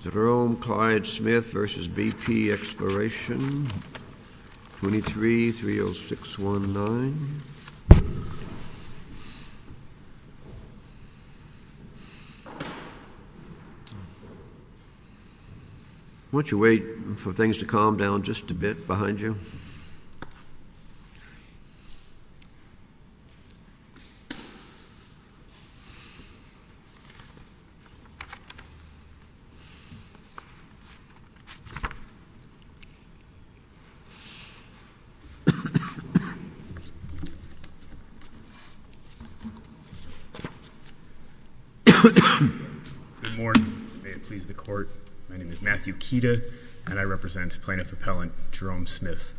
Jerome Clyde Smith v. BP Exploration, 23-30619 Why don't you wait for things to calm down just a bit behind you. Good morning. May it please the court, my name is Matthew Kida and I represent plaintiff appellant Jerome Smith.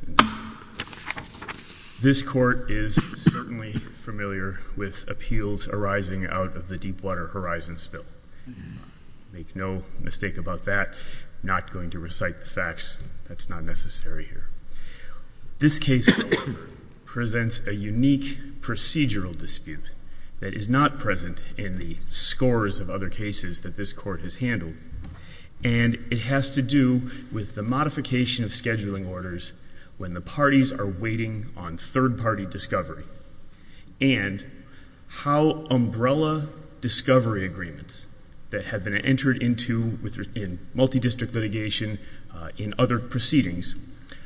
This court is certainly familiar with appeals arising out of the Deep Water Horizon spill. Make no mistake about that, I'm not going to recite the facts, that's not necessary here. This case presents a unique procedural dispute that is not present in the scores of other cases that this court has handled and it has to do with the modification of scheduling orders when the parties are waiting on third party discovery and how umbrella discovery agreements that have been entered into in multi-district litigation in other proceedings,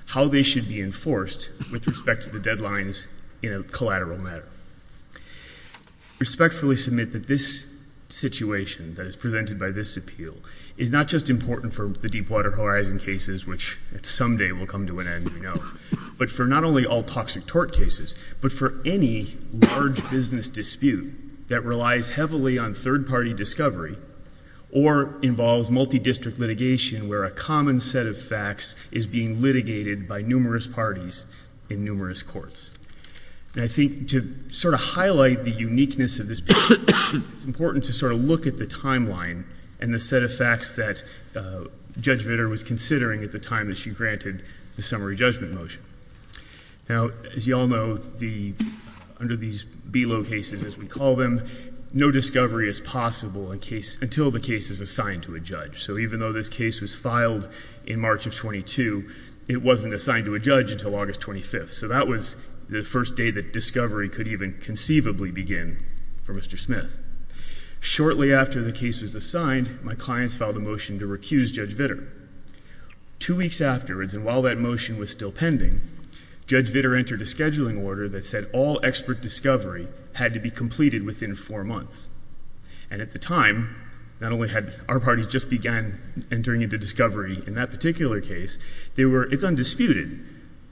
how they should be enforced with respect to the deadlines in a collateral matter. I respectfully submit that this situation that is presented by this appeal is not just important for the Deep Water Horizon cases, which some day will come to an end, but for not only all toxic tort cases, but for any large business dispute that relies heavily on third party discovery or involves multi-district litigation where a common set of facts is being litigated by numerous parties in numerous courts. And I think to sort of highlight the uniqueness of this case, it's important to sort of look at the timeline and the set of facts that Judge Vitter was considering at the time that she granted the summary judgment motion. Now, as you all know, under these below cases, as we call them, no discovery is possible until the case is assigned to a judge. So even though this case was filed in March of 22, it wasn't assigned to a judge until August 25th. So that was the first day that discovery could even conceivably begin for Mr. Smith. Shortly after the case was assigned, my clients filed a motion to recuse Judge Vitter. Two weeks afterwards, and while that motion was still pending, Judge Vitter entered a scheduling order that said all expert discovery had to be completed within four months. And at the time, not only had our parties just began entering into discovery in that particular case, they were — it's undisputed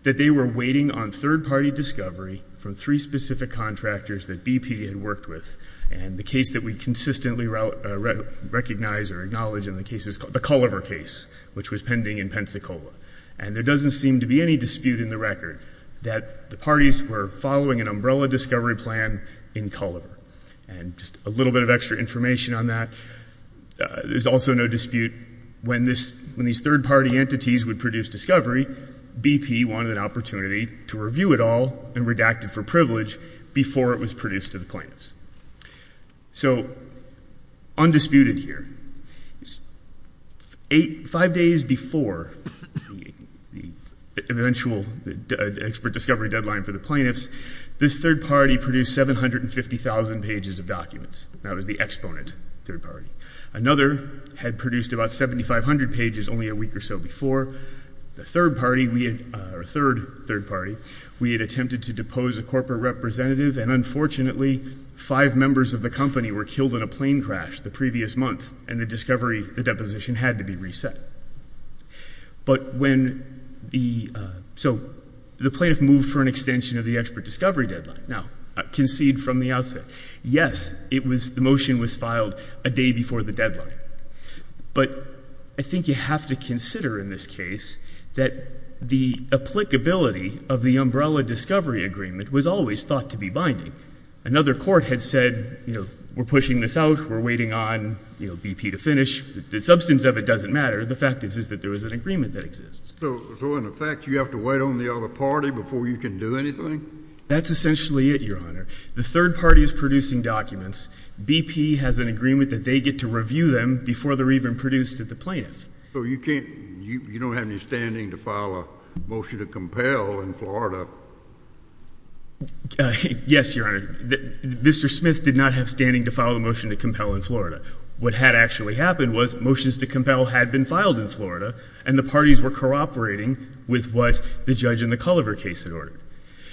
that they were waiting on third party discovery from three specific contractors that BP had worked with. And the case that we consistently recognize or acknowledge in this case is the Culliver case, which was pending in Pensacola. And there doesn't seem to be any dispute in the record that the parties were following an umbrella discovery plan in Culliver. And just a little bit of extra information on that. There's also no dispute when this — when these third party entities would produce discovery, BP wanted an opportunity to review it all and redact it for privilege before it was produced to the plaintiffs. So, undisputed here, five days before the eventual expert discovery deadline for the plaintiffs, this third party produced 750,000 pages of documents. That was the exponent third party. Another had produced about 7,500 pages only a week or so before. The third party, or third third party, we had attempted to depose a corporate representative and unfortunately five members of the company were killed in a plane crash the previous month and the discovery — the deposition had to be reset. But when the — so, the plaintiff moved for an extension of the expert discovery deadline. Now, concede from the outset, yes, it was — the motion was filed a day before the deadline. But I think you have to consider in this case that the applicability of the umbrella discovery agreement was always thought to be binding. Another court had said, you know, we're pushing this out, we're waiting on, you know, BP to finish. The substance of it doesn't matter. The fact is, is that there was an agreement that exists. So, in effect, you have to wait on the other party before you can do anything? That's essentially it, Your Honor. The third party is producing documents. BP has an agreement that they get to review them before they're even produced to the plaintiffs. So, you can't — you don't have any standing to file a motion to compel in Florida? Yes, Your Honor. Mr. Smith did not have standing to file a motion to compel in Florida. What had actually happened was motions to compel had been filed in Florida, and the parties were cooperating with what the judge in the Culliver case had ordered.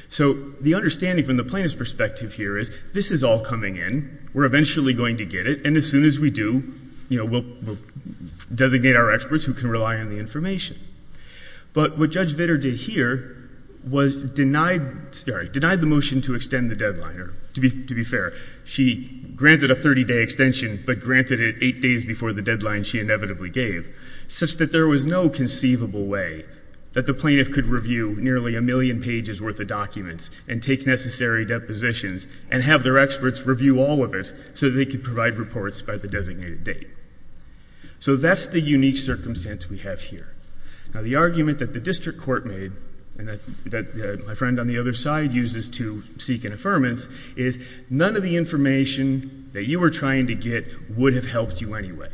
So the understanding from the plaintiff's perspective here is, this is all coming in, we're eventually going to get it, and as soon as we do, you know, we'll designate our experts who can rely on the information. But what Judge Vitter did here was denied — sorry — denied the motion to extend the deadline. To be fair, she granted a 30-day extension, but granted it eight days before the deadline she inevitably gave, such that there was no conceivable way that the plaintiff could review nearly a million pages worth of documents and take necessary depositions and have their experts review all of it so that they could provide reports by the designated date. So that's the unique circumstance we have here. Now, the argument that the district court made, and that my friend on the other side uses to seek an affirmance, is none of the information that you were trying to get would have helped you anyway.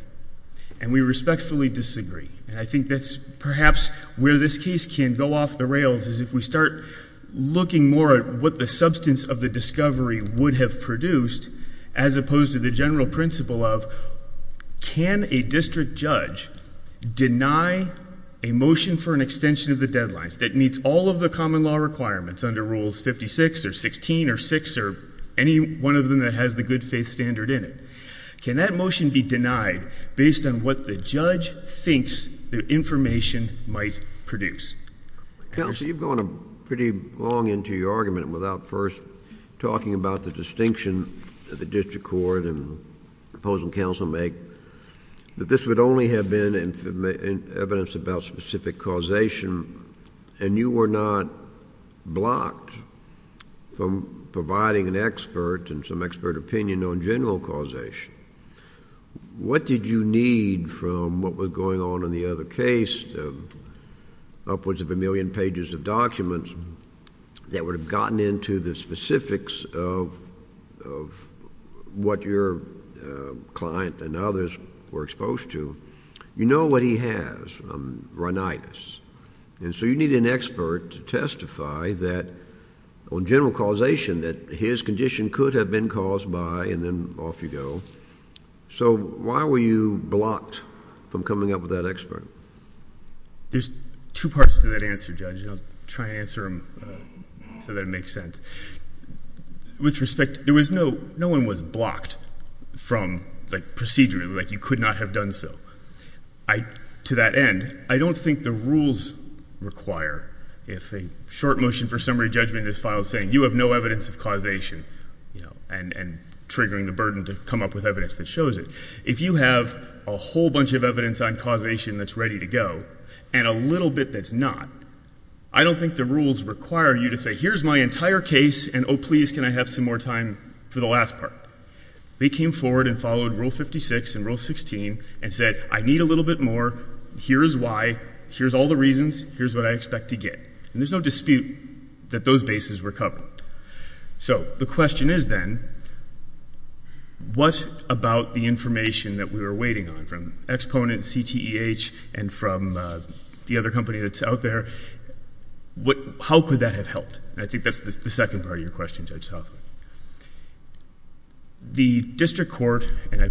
And we respectfully disagree. And I think that's perhaps where this case can go off the rails, is if we start looking more at what the substance of the discovery would have produced, as opposed to the general principle of, can a district judge deny a motion for an extension of the deadlines that meets all of the common law requirements under Rules 56 or 16 or 6 or any one of them that has the good faith standard in it? Can that motion be denied based on what the judge thinks the information might produce? Counsel, you've gone pretty long into your argument without first talking about the distinction the district court and opposing counsel make, that this would only have been evidence about specific causation, and you were not blocked from providing an expert and some expert opinion on general causation. What did you need from what was going on in the other case, upwards of a million pages of documents, that would have gotten into the specifics of what your client and others were exposed to? You know what he has, rhinitis, and so you need an expert to testify on general causation that his condition could have been caused by, and then off you go. So why were you blocked from coming up with that expert? There's two parts to that answer, Judge, and I'll try and answer them so that it makes sense. With respect, there was no, no one was blocked from, like, procedurally, like, you could not have done so. I, to that end, I don't think the rules require, if a short motion for summary judgment is filed saying you have no evidence of causation, you know, and triggering the burden to come up with evidence that shows it. If you have a whole bunch of causation that's ready to go, and a little bit that's not, I don't think the rules require you to say, here's my entire case, and oh, please, can I have some more time for the last part? They came forward and followed Rule 56 and Rule 16 and said, I need a little bit more, here is why, here's all the reasons, here's what I expect to get. And there's no dispute that those bases were covered. So the question is, then, what about the information that we were waiting on from Exponent, CTEH, and from the other company that's out there, what, how could that have helped? And I think that's the second part of your question, Judge Southwood. The District Court, and I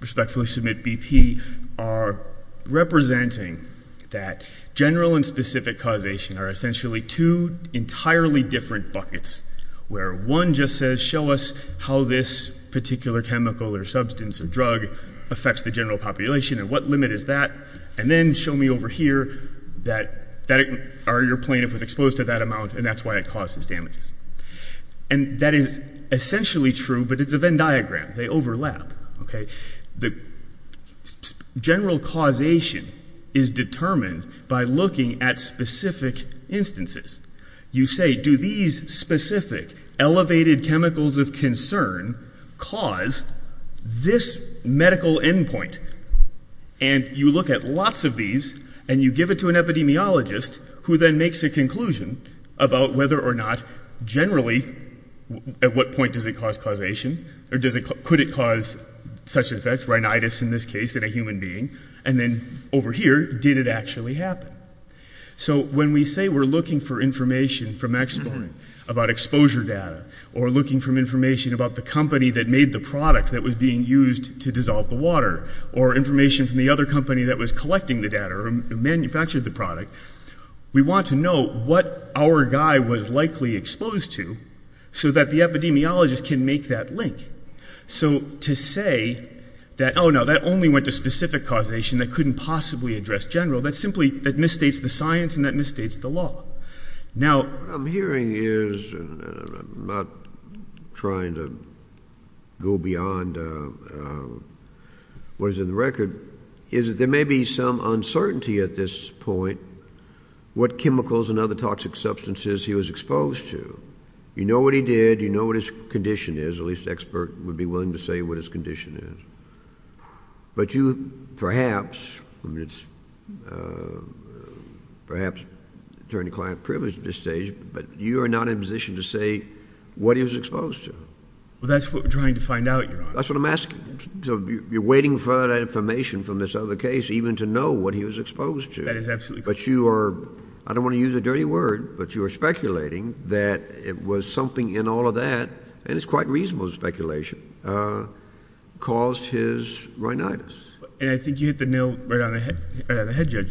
respectfully submit BP, are representing that general and specific causation are essentially two entirely different buckets, where one just says, show us how this particular chemical or substance or drug affects the general population, and what limit is that, and then show me over here that your plaintiff was exposed to that amount, and that's why it causes damages. And that is essentially true, but it's a Venn diagram. They overlap. The general causation is determined by looking at specific instances. You say, do these specific elevated chemicals of concern cause this medical endpoint? And you look at lots of these, and you give it to an epidemiologist, who then makes a conclusion about whether or not generally, at what point does it cause causation, or could it cause such effects, rhinitis in this case, in a human being, and then over here, did it actually happen? So when we say we're looking for information from experts about exposure data, or looking for information about the company that made the product that was being used to dissolve the water, or information from the other company that was collecting the data, or manufactured the product, we want to know what our guy was likely exposed to, so that the epidemiologist can make that link. So to say that, oh, no, that only went to specific causation that couldn't possibly address general, that simply misstates the science, and that misstates the law. Now, what I'm hearing is, and I'm not trying to go beyond what is in the record, is that there may be some uncertainty at this point what chemicals and other toxic substances he was exposed to. You know what he did. You know what his condition is. At least expert would be willing to say what his condition is. But you perhaps, perhaps attorney client privileged at this stage, but you are not in a position to say what he was exposed to. Well, that's what we're trying to find out, Your Honor. That's what I'm asking. So you're waiting for that information from this other case, even to know what he was exposed to. That is absolutely correct. But you are, I don't want to use a dirty word, but you are speculating that it was something in all of that, and it's quite reasonable speculation, caused his rhinitis. And I think you hit the nail right on the head, Judge.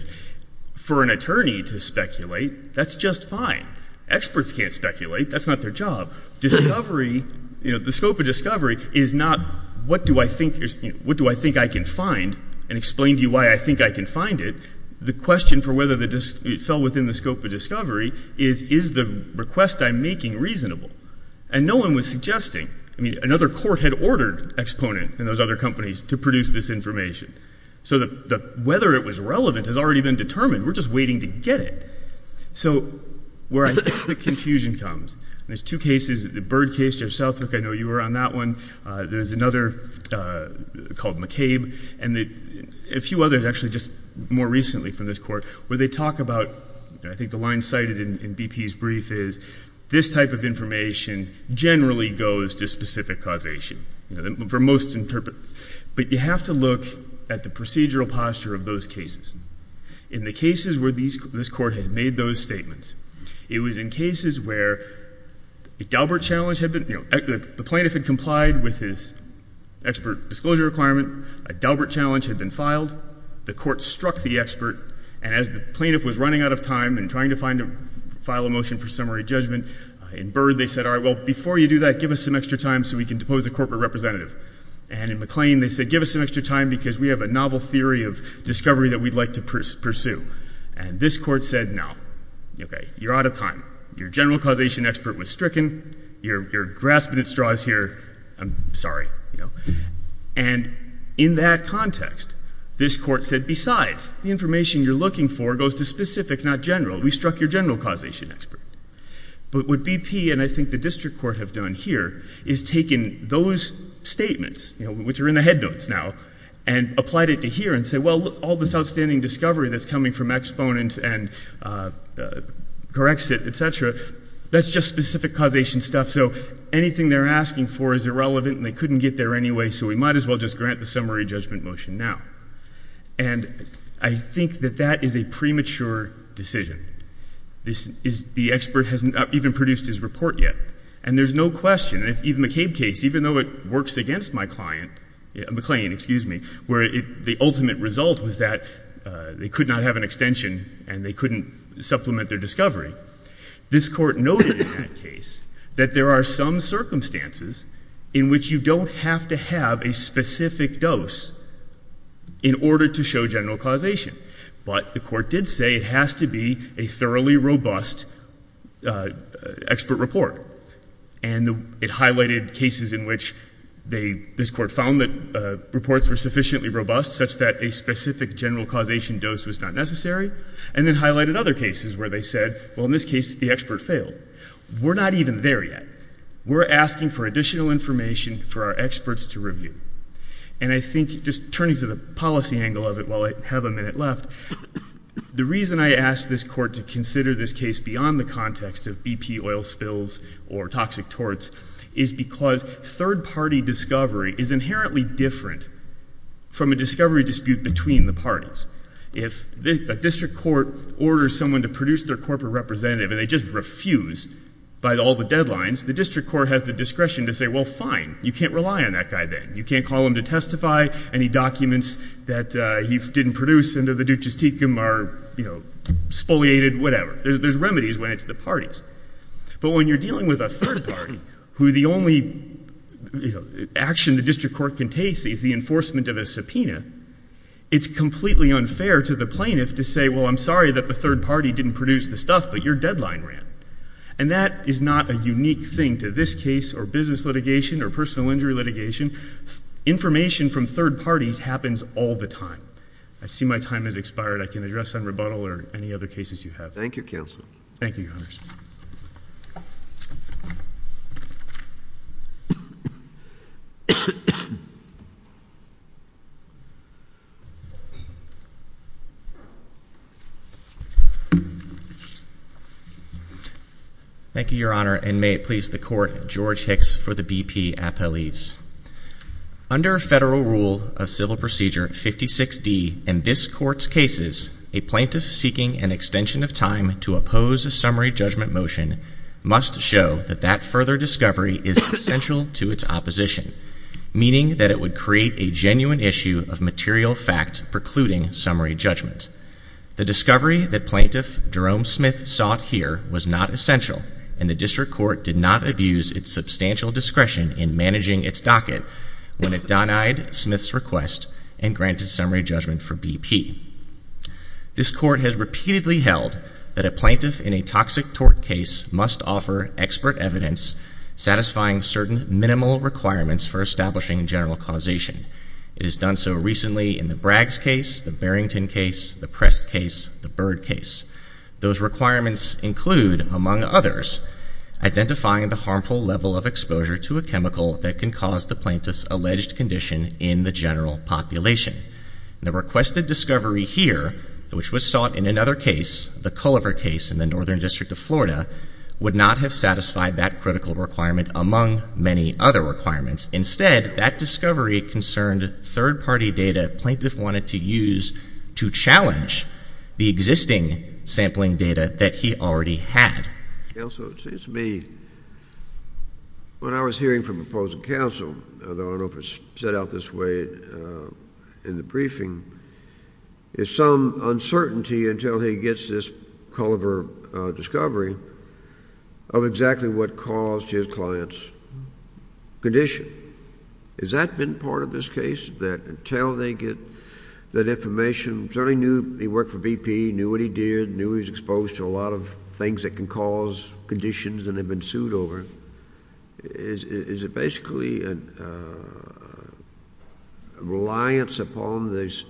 For an attorney to speculate, that's just fine. Experts can't speculate. That's not their job. Discovery, you know, the scope of discovery is not what do I think, what do I think I can find and explain to you why I think I can find it. The question for whether it fell within the scope of discovery is, is the request I'm making reasonable? And no one was suggesting, I mean, another court had ordered Exponent and those other companies to produce this information. So whether it was relevant has already been determined. We're just waiting to get it. So where I think the confusion comes, there's two cases, the Byrd case, Judge Southwick, I know you were on that one. There's another called McCabe, and a few others actually just more recently from this Court, where they talk about, I think the line cited in BP's brief is, this type of information generally goes to specific causation, you know, for most interpreters. But you have to look at the procedural posture of those cases. In the cases where this Court had made those statements, it was in cases where a Daubert challenge had been, you know, the plaintiff had complied with his expert disclosure requirement, a Daubert challenge had been filed, the Court struck the expert, and as the plaintiff was running out of time and trying to find a, file a motion for summary judgment, in Byrd they said, all right, well, before you do that, give us some extra time so we can depose a corporate representative. And in McClain, they said, give us some extra time because we have a novel theory of discovery that we'd like to pursue. And this Court said, no, okay, you're out of time. Your general causation expert was stricken, you're, you're out of time. In that context, this Court said, besides, the information you're looking for goes to specific, not general. We struck your general causation expert. But what BP and I think the District Court have done here is taken those statements, you know, which are in the head notes now, and applied it to here and said, well, look, all this outstanding discovery that's coming from exponent and Corexit, et cetera, that's just specific causation stuff, so anything they're asking for is irrelevant and they couldn't get there anyway, so we might as well just grant the summary judgment motion now. And I think that that is a premature decision. This is, the expert hasn't even produced his report yet. And there's no question, in the McCabe case, even though it works against my client, McClain, excuse me, where the ultimate result was that they could not have an extension and they couldn't supplement their discovery, this Court noted in that case that there are some circumstances in which you don't have to have a specific dose in order to show general causation. But the Court did say it has to be a thoroughly robust expert report. And it highlighted cases in which they, this Court found that reports were sufficiently robust, such that a specific general causation dose was not necessary, and then highlighted other cases where they said, well, in this case, the expert failed. We're not even there yet. We're asking for additional information for our experts to review. And I think, just turning to the policy angle of it while I have a minute left, the reason I ask this Court to consider this case beyond the context of BP oil spills or toxic torts is because third-party discovery is inherently different from a discovery dispute between the parties. If a district court orders someone to produce their corporate representative and they just refuse by all the deadlines, the district court has the discretion to say, well, fine, you can't rely on that guy then. You can't call him to testify. Any documents that he didn't produce under the ducis tecum are, you know, spoliated, whatever. There's remedies when it's the parties. But when you're dealing with a third party, who the only, you know, action the district court can take is the enforcement of a subpoena, it's completely unfair to the plaintiff to say, well, I'm sorry that the third party didn't produce the stuff, but your deadline ran. And that is not a unique thing to this case or business litigation or personal injury litigation. Information from third parties happens all the time. I see my time has expired. I can address on rebuttal or any other cases you have. Thank you, Counsel. Thank you, Your Honor. Thank you, Your Honor, and may it please the Court, George Hicks for the BP Appellees. Under Federal Rule of Civil Procedure 56D in this Court's cases, a plaintiff seeking an extension of time to oppose a summary judgment motion must show that that further discovery is essential to its opposition, meaning that it would create a genuine issue of material fact precluding summary judgment. The discovery that Plaintiff Jerome Smith sought here was not essential, and the district court did not abuse its substantial discretion in managing its docket when it denied Smith's request and granted summary judgment for BP. This Court has repeatedly held that a plaintiff in a toxic tort case must offer expert evidence satisfying certain minimal requirements for establishing general causation. It has done so recently in the Braggs case, the Barrington case, the Prest case, the Bird case. Those requirements include, among others, identifying the general population. The requested discovery here, which was sought in another case, the Culliver case in the Northern District of Florida, would not have satisfied that critical requirement among many other requirements. Instead, that discovery concerned third-party data plaintiff wanted to use to challenge the existing sampling data that he already had. Counsel, it seems to me, when I was hearing from opposing counsel, though I don't know if it's set out this way in the briefing, there's some uncertainty until he gets this Culliver discovery of exactly what caused his client's condition. Has that been part of this case, that until they get that information, certainly knew he worked for BP, knew what he did, knew he was exposed to a lot of things that can cause conditions and have been sued over, is it basically a reliance upon this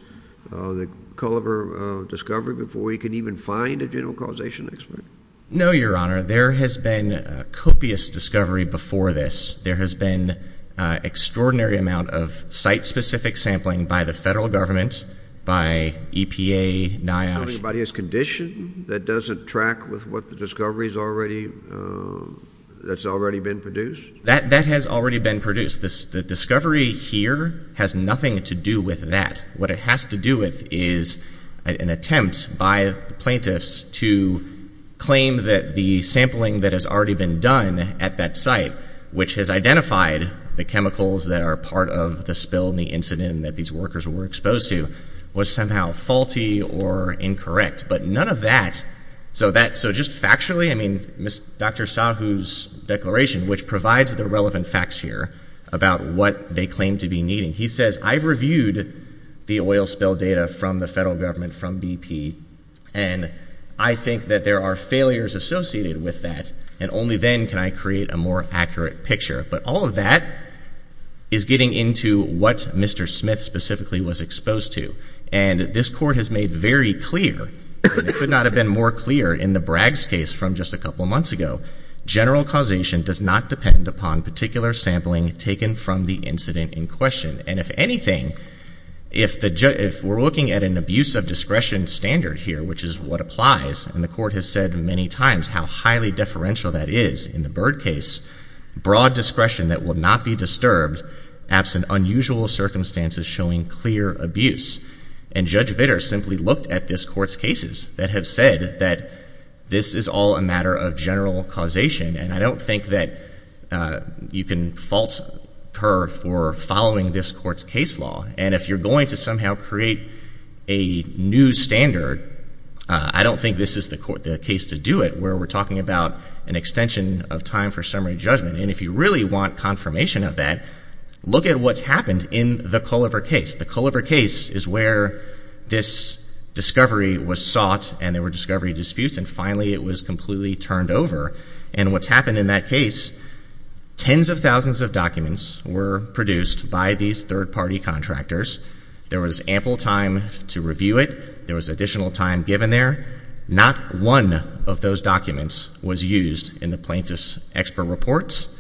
Culliver discovery before he can even find a general causation expert? No, Your Honor. There has been a copious discovery before this. There has been an extraordinary amount of site-specific sampling by the federal government, by EPA, NIOSH. So anybody has condition that doesn't track with what the discovery's already, that's already been produced? That has already been produced. The discovery here has nothing to do with that. What it has to do with is an attempt by the plaintiffs to claim that the sampling that has already been done at that site, which has identified the chemicals that are part of the spill and incident that these workers were exposed to, was somehow faulty or incorrect. But none of that, so that, so just factually, I mean, Dr. Sahu's declaration, which provides the relevant facts here about what they claim to be needing, he says, I've reviewed the oil spill data from the federal government, from BP, and I think that there are failures associated with that, and only then can I create a more accurate picture. But all of that is getting into what Mr. Smith specifically was exposed to. And this Court has made very clear, and it could not have been more clear in the Bragg's case from just a couple months ago, general causation does not depend upon particular sampling taken from the incident in question. And if anything, if the, if we're looking at an abuse of discretion standard here, which is what applies, and the Court has said many times how highly deferential that is in the Byrd case, broad discretion that will not be disturbed absent unusual circumstances showing clear abuse. And Judge Vitter simply looked at this Court's cases that have said that this is all a matter of general causation, and I don't think that you can fault her for following this Court's case law. And if you're going to somehow create a new standard, I don't think this is the Court, the case to do it, where we're talking about an extension of time for summary judgment. And if you really want confirmation of that, look at what's happened in the Culliver case. The Culliver case is where this discovery was sought, and there were discovery disputes, and finally it was completely turned over. And what's happened in that case, tens of thousands of documents were produced by these third-party contractors. There was ample time to review it. There was additional time given there. Not one of those documents was used in the plaintiff's expert reports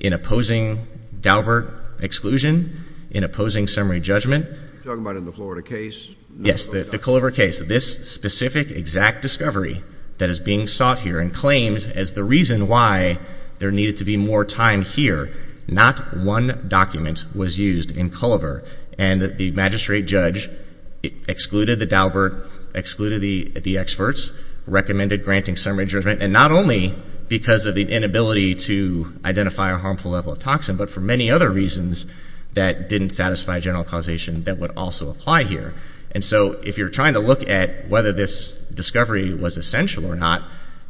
in opposing Daubert exclusion, in opposing summary judgment. You're talking about in the Florida case? Yes, the Culliver case. This specific exact discovery that is being sought here and claimed as the reason why there needed to be more time here, not one document was used in Culliver. And the magistrate judge excluded the Daubert, excluded the experts, recommended granting summary judgment, and not only because of the inability to identify a harmful level of toxin, but for many other reasons that didn't satisfy general causation that would also apply here. And so if you're trying to look at whether this discovery was essential or not,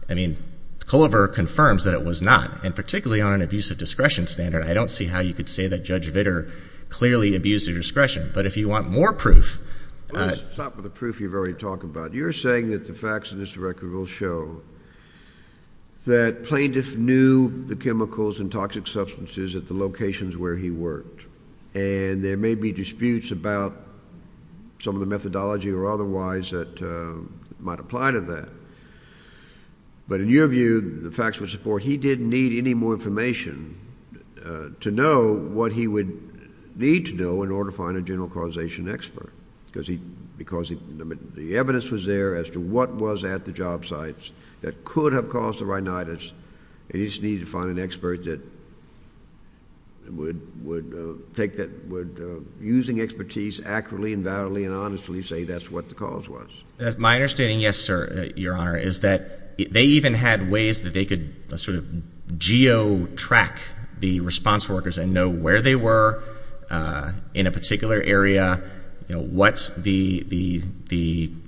I mean, Culliver confirms that it was not. And particularly on an abusive discretion standard, I don't see how you could say that Judge Vitter clearly abused the discretion. But if you want more proof— Let's stop with the proof you've already talked about. You're saying that the facts in this record will show that plaintiff knew the chemicals and toxic substances at the locations where he worked. And there may be disputes about some of the methodology or otherwise that might apply to that. But in your view, the facts would support he didn't need any more information to know what he would need to know in order to find a general causation expert, because the evidence was there as to what was at the job sites that could have caused the rhinitis, and he just needed to find an expert that would, using expertise accurately and validly and honestly, say that's what the cause was. My understanding, yes, sir, Your Honor, is that they even had ways that they could sort of geo-track the response workers and know where they were in a particular area, what the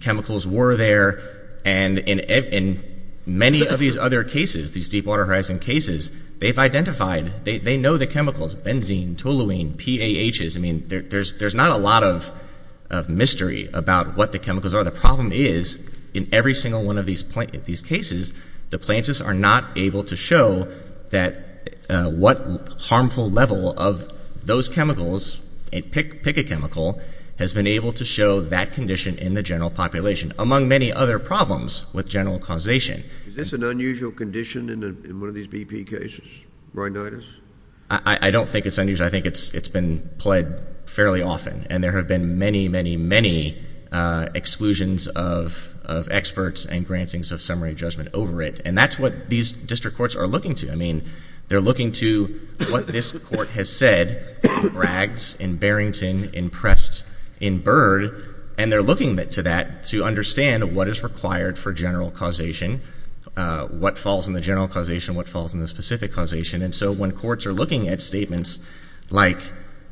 chemicals were there. And in many of these other cases, these Deepwater Horizon cases, they've identified—they know the chemicals, benzene, toluene, PAHs. I mean, there's not a lot of mystery about what the chemicals are. The problem is, in every single one of these cases, the plaintiffs are not able to show what harmful level of those chemicals, pick a chemical, has been able to show that condition in the general population, among many other problems with general causation. Is this an unusual condition in one of these BP cases, rhinitis? I don't think it's unusual. I think it's been pled fairly often, and there have been many, many, many exclusions of experts and grantings of summary judgment over it. And that's what these district courts are looking to. I mean, they're looking to what this court has said, bragged, and Barrington, impressed, in Byrd, and they're looking to that to understand what is required for general causation, what falls in the general causation, what falls in the specific causation. And so when courts are looking at statements like,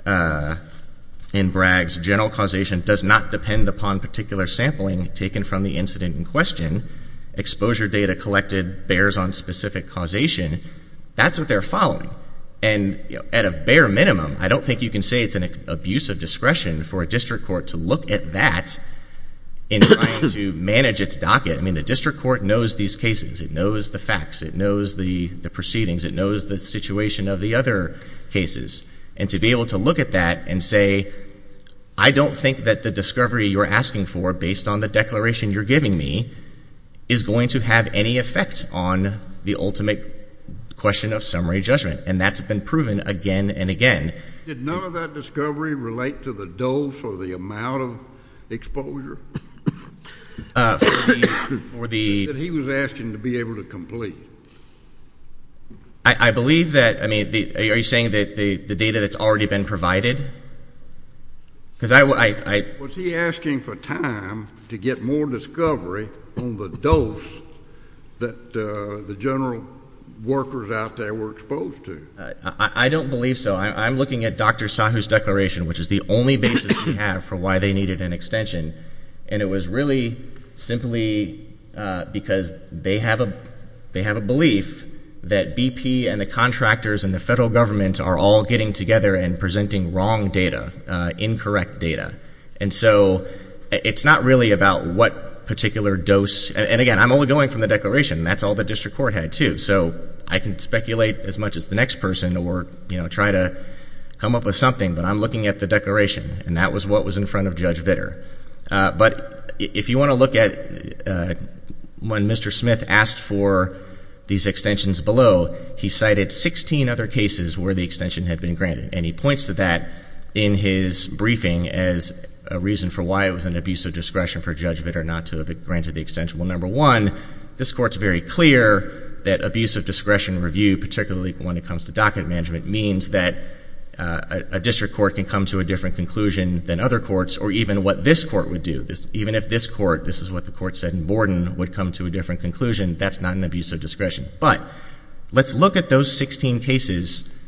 in Braggs, general causation does not depend upon particular sampling taken from the incident in question, exposure data collected bears on specific causation, that's what they're following. And at a bare minimum, I don't think you can say it's an abuse of discretion for a district court to look at that in trying to manage its docket. I mean, the district court knows these cases. It knows the facts. It knows the proceedings. It knows the situation of the other cases. And to be able to look at that and say, I don't think that the discovery you're asking for, based on the declaration you're giving me, is going to have any effect on the ultimate question of summary judgment, and that's been proven again and again. Did none of that discovery relate to the dose or the amount of exposure? He said he was asking to be able to complete. I believe that, I mean, are you saying that the data that's already been provided? Was he asking for time to get more discovery on the dose that the general workers out there were exposed to? I don't believe so. I'm looking at Dr. Sahu's declaration, which is the only basis we have for why they needed an extension. And it was really simply because they have a belief that BP and the contractors and the federal government are all getting together and presenting wrong data, incorrect data. And so it's not really about what particular dose. And again, I'm only going from the declaration. That's all the district court had, too. So I can speculate as much as the next person or try to come up with something, but I'm looking at the declaration, and that was what was in front of Judge Vitter. But if you want to look at when Mr. Smith asked for these extensions below, he cited 16 other cases where the extension had been granted. And he points to that in his briefing as a reason for why it was an abuse of discretion for Judge Vitter not to have granted the extension. Well, number one, this Court is very clear that abuse of discretion review, particularly when it comes to docket management, means that a district court can come to a different conclusion than other courts, or even what this Court would do. Even if this Court, this is what the Court said in Borden, would come to a different conclusion, that's not an abuse of discretion. But let's look at those 16 cases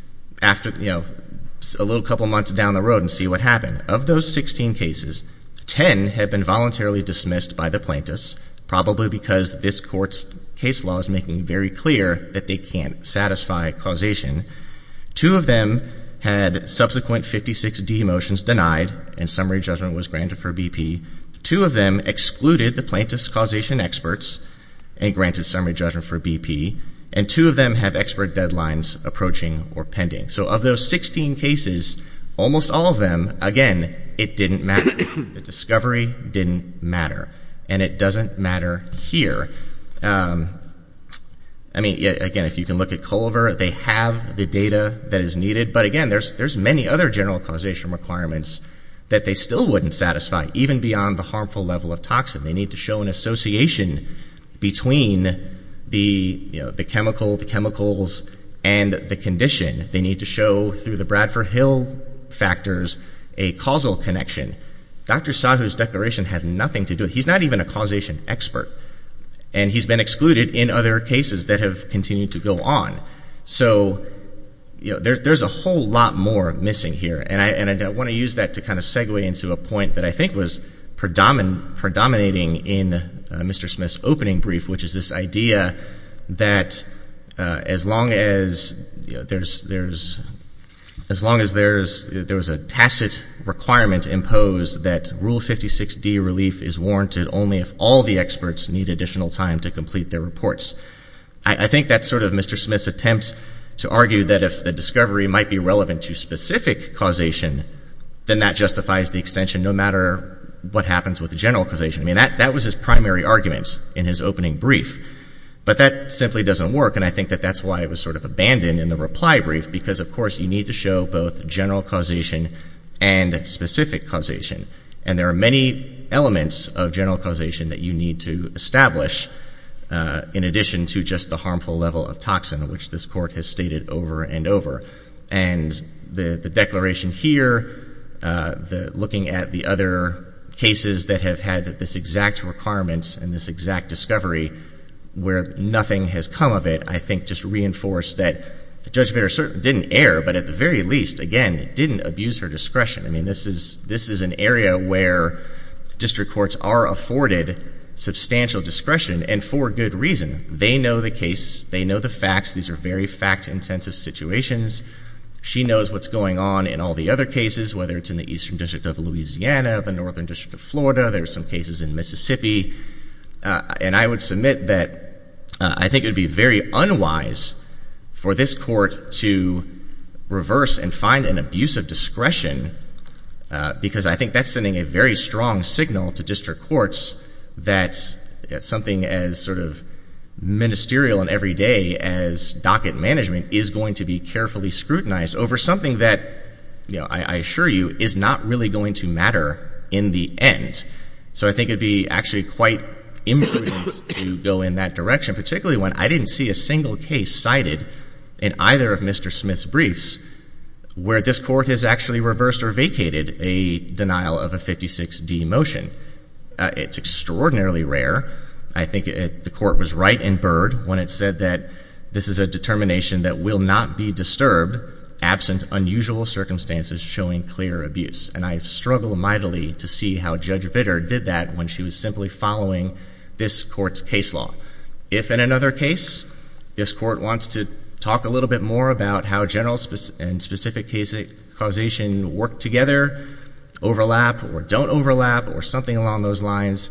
a little couple months down the road and see what happened. Of those 16 cases, 10 have been voluntarily dismissed by the plaintiffs, probably because this Court's case law is making it very clear that they can't satisfy causation. Two of them had subsequent 56-D motions denied, and summary judgment was granted for BP. Two of them excluded the plaintiffs' causation experts and granted summary judgment for BP. And two of them have expert deadlines approaching or pending. So of those 16 cases, almost all of them, again, it didn't matter. The discovery didn't matter. And it doesn't matter here. I mean, again, if you can look at Culver, they have the data that is needed. But again, there's many other general causation requirements that they still wouldn't satisfy, even beyond the harmful level of toxin. They need to show an association between the chemical, the chemicals, and the condition. They need to show, through the Bradford Hill factors, a causal connection. Dr. Sahu's declaration has nothing to do with it. He's not even a causation expert. And he's been excluded in other cases that have continued to go on. So there's a whole lot more missing here. And I want to use that to kind of segue into a point that I think was predominating in Mr. Smith's opening brief, which is this idea that as long as there's a tacit requirement imposed, that Rule 56D relief is warranted only if all the experts need additional time to complete their reports. I think that's sort of Mr. Smith's attempt to argue that if the discovery might be relevant to specific causation, then that justifies the extension no matter what happens with the general causation. I mean, that was his primary argument in his opening brief. But that simply doesn't work, and I think that that's why it was sort of abandoned in the reply brief, because, of course, you need to show both general causation and specific causation. And there are many elements of general causation that you need to establish, in addition to just the harmful level of toxin, which this Court has stated over and over. And the declaration here, looking at the other cases that have had this exact requirement and this exact discovery where nothing has come of it, I think just reinforced that Judge Bader certainly didn't err, but at the very least, again, didn't abuse her discretion. I mean, this is an area where district courts are afforded substantial discretion, and for good reason. They know the case. They know the facts. These are very fact-intensive situations. She knows what's going on in all the other cases, whether it's in the Eastern District of Louisiana, the Northern District of Florida. There are some cases in Mississippi. And I would submit that I think it would be very unwise for this Court to reverse and find an abuse of discretion, because I think that's sending a very strong signal to district courts that something as sort of ministerial and everyday as docket management is going to be carefully scrutinized over something that, I assure you, is not really going to matter in the end. So I think it would be actually quite imprudent to go in that direction, particularly when I didn't see a single case cited in either of Mr. Smith's briefs where this Court has actually reversed or vacated a denial of a 56D motion. It's extraordinarily rare. I think the Court was right in Byrd when it said that this is a determination that will not be disturbed absent unusual circumstances showing clear abuse. And I struggle mightily to see how Judge Vitter did that when she was simply following this Court's case law. If in another case this Court wants to talk a little bit more about how general and specific causation work together, overlap or don't overlap or something along those lines,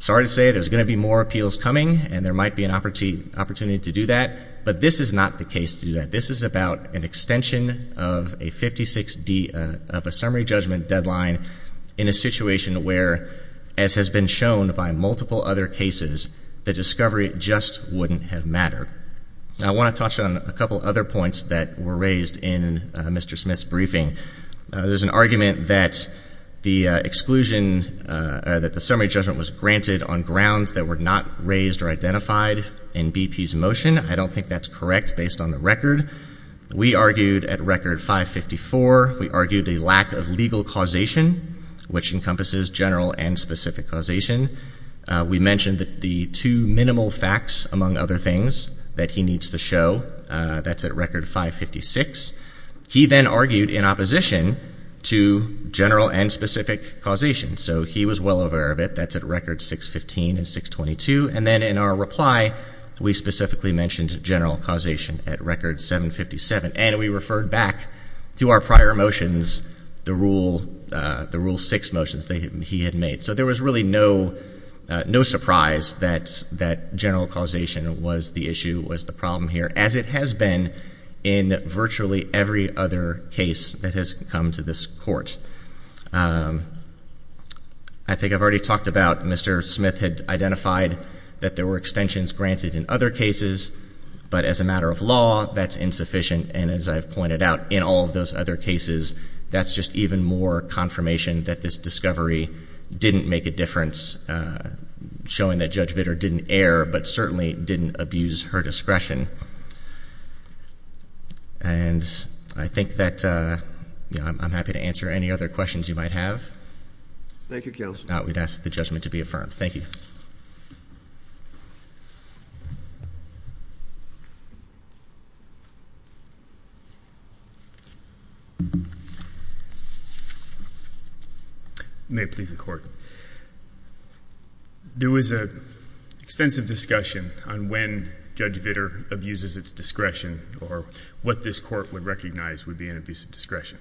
sorry to say there's going to be more appeals coming and there might be an opportunity to do that. But this is not the case to do that. This is about an extension of a 56D, of a summary judgment deadline in a situation where, as has been shown by multiple other cases, the discovery just wouldn't have mattered. I want to touch on a couple other points that were raised in Mr. Smith's briefing. There's an argument that the exclusion, that the summary judgment was granted on grounds that were not raised or identified in BP's motion. I don't think that's correct based on the record. We argued at record 554. We argued a lack of legal causation, which encompasses general and specific causation. We mentioned that the two minimal facts, among other things, that he needs to show, that's at record 556. He then argued in opposition to general and specific causation. So he was well aware of it. That's at record 615 and 622. And then in our reply, we specifically mentioned general causation at record 757. And we referred back to our prior motions, the Rule 6 motions that he had made. So there was really no surprise that general causation was the issue, was the problem here, as it has been in virtually every other case that has come to this court. I think I've already talked about Mr. Smith had identified that there were extensions granted in other cases, but as a matter of law, that's insufficient. And as I've pointed out, in all of those other cases, that's just even more confirmation that this discovery didn't make a difference, showing that Judge Bitter didn't err, but certainly didn't abuse her discretion. And I think that I'm happy to answer any other questions you might have. Thank you, Counsel. I would ask the judgment to be affirmed. Thank you. May it please the Court. There was an extensive discussion on when Judge Bitter abuses its discretion or what this court would recognize would be an abuse of discretion.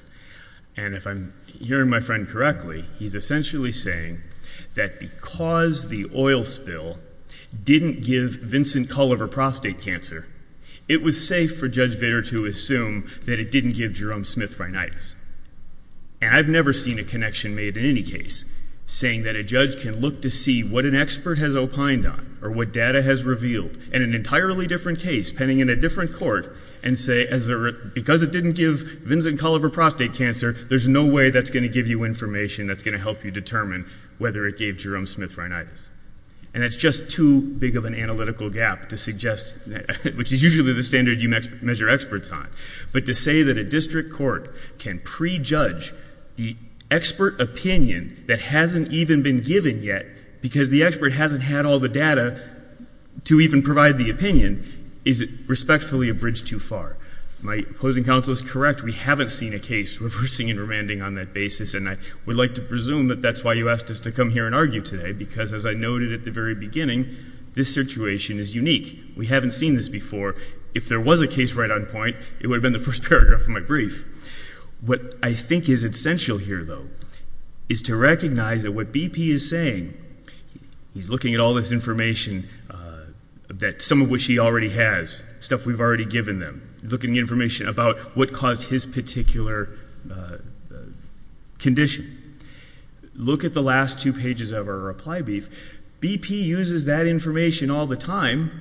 And if I'm hearing my friend correctly, he's essentially saying that because the oil spill didn't give Vincent Culliver prostate cancer, it was safe for Judge Bitter to assume that it didn't give Jerome Smith rhinitis. And I've never seen a connection made in any case saying that a judge can look to see what an expert has opined on or what data has revealed in an entirely different case, pending in a different court, and say because it didn't give Vincent Culliver prostate cancer, there's no way that's going to give you information that's going to help you determine whether it gave Jerome Smith rhinitis. And that's just too big of an analytical gap to suggest, which is usually the standard you measure experts on, but to say that a district court can prejudge the expert opinion that hasn't even been given yet because the expert hasn't had all the data to even provide the opinion is respectfully a bridge too far. My opposing counsel is correct. We haven't seen a case reversing and remanding on that basis, and I would like to presume that that's why you asked us to come here and argue today because, as I noted at the very beginning, this situation is unique. We haven't seen this before. If there was a case right on point, it would have been the first paragraph of my brief. What I think is essential here, though, is to recognize that what BP is saying, he's looking at all this information, some of which he already has, stuff we've already given them, looking at information about what caused his particular condition. Look at the last two pages of our reply brief. BP uses that information all the time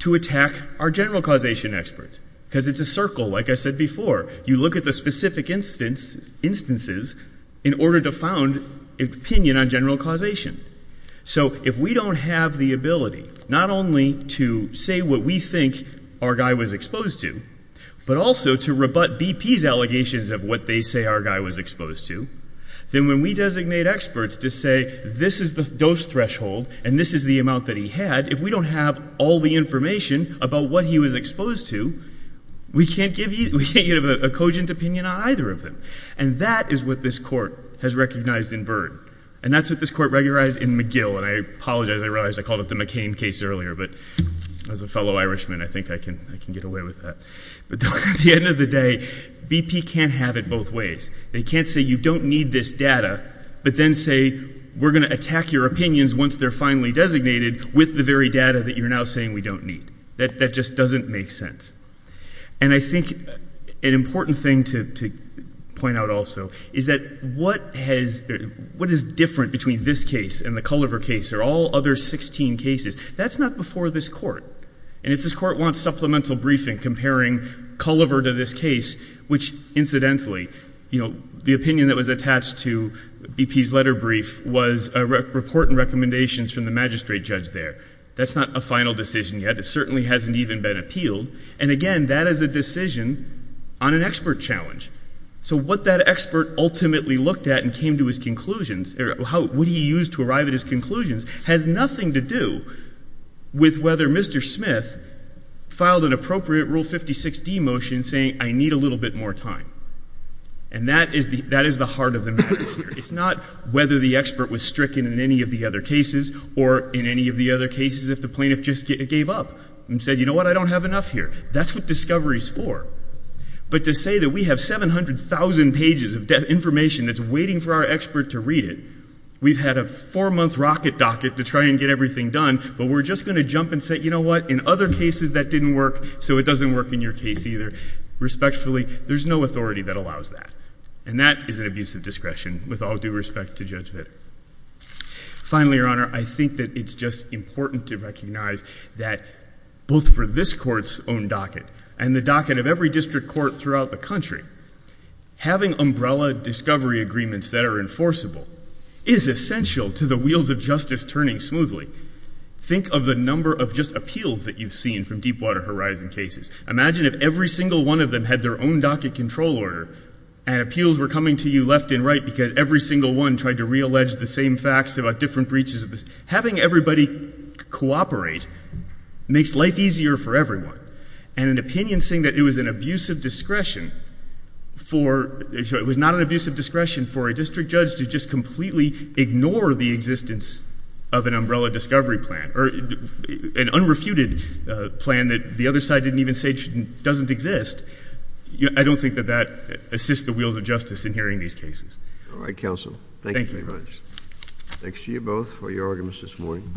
to attack our general causation experts because it's a circle, like I said before. You look at the specific instances in order to found an opinion on general causation. So if we don't have the ability not only to say what we think our guy was exposed to, but also to rebut BP's allegations of what they say our guy was exposed to, then when we designate experts to say this is the dose threshold and this is the amount that he had, if we don't have all the information about what he was exposed to, we can't give a cogent opinion on either of them. And that is what this court has recognized in Byrd. And that's what this court recognized in McGill. And I apologize, I realize I called up the McCain case earlier, but as a fellow Irishman, I think I can get away with that. But at the end of the day, BP can't have it both ways. They can't say you don't need this data, but then say we're going to attack your opinions once they're finally designated with the very data that you're now saying we don't need. That just doesn't make sense. And I think an important thing to point out also is that what is different between this case and the Culliver case or all other 16 cases, that's not before this court. And if this court wants supplemental briefing comparing Culliver to this case, which incidentally, you know, the opinion that was attached to BP's letter brief was a report and recommendations from the magistrate judge there. That's not a final decision yet. It certainly hasn't even been appealed. And again, that is a decision on an expert challenge. So what that expert ultimately looked at and came to his conclusions or what he used to arrive at his conclusions has nothing to do with whether Mr. Smith filed an appropriate Rule 56D motion saying I need a little bit more time. And that is the heart of the matter here. It's not whether the expert was stricken in any of the other cases or in any of the other cases if the plaintiff just gave up and said, you know what, I don't have enough here. That's what discovery is for. But to say that we have 700,000 pages of information that's waiting for our expert to read it, we've had a four-month rocket docket to try and get everything done, but we're just going to jump and say, you know what, in other cases that didn't work, so it doesn't work in your case either. Respectfully, there's no authority that allows that. And that is an abuse of discretion with all due respect to Judge Vitter. Finally, Your Honor, I think that it's just important to recognize that both for this court's own docket and the docket of every district court throughout the country, having umbrella discovery agreements that are enforceable is essential to the wheels of justice turning smoothly. Think of the number of just appeals that you've seen from Deepwater Horizon cases. Imagine if every single one of them had their own docket control order and appeals were coming to you left and right because every single one tried to reallege the same facts about different breaches of this. Having everybody cooperate makes life easier for everyone. And an opinion saying that it was an abuse of discretion for, it was not an abuse of discretion for a district judge to just completely ignore the existence of an umbrella discovery plan or an unrefuted plan that the other side didn't even say doesn't exist, I don't think that that assists the wheels of justice in hearing these cases. All right, counsel. Thank you very much. Thanks to you both for your arguments this morning.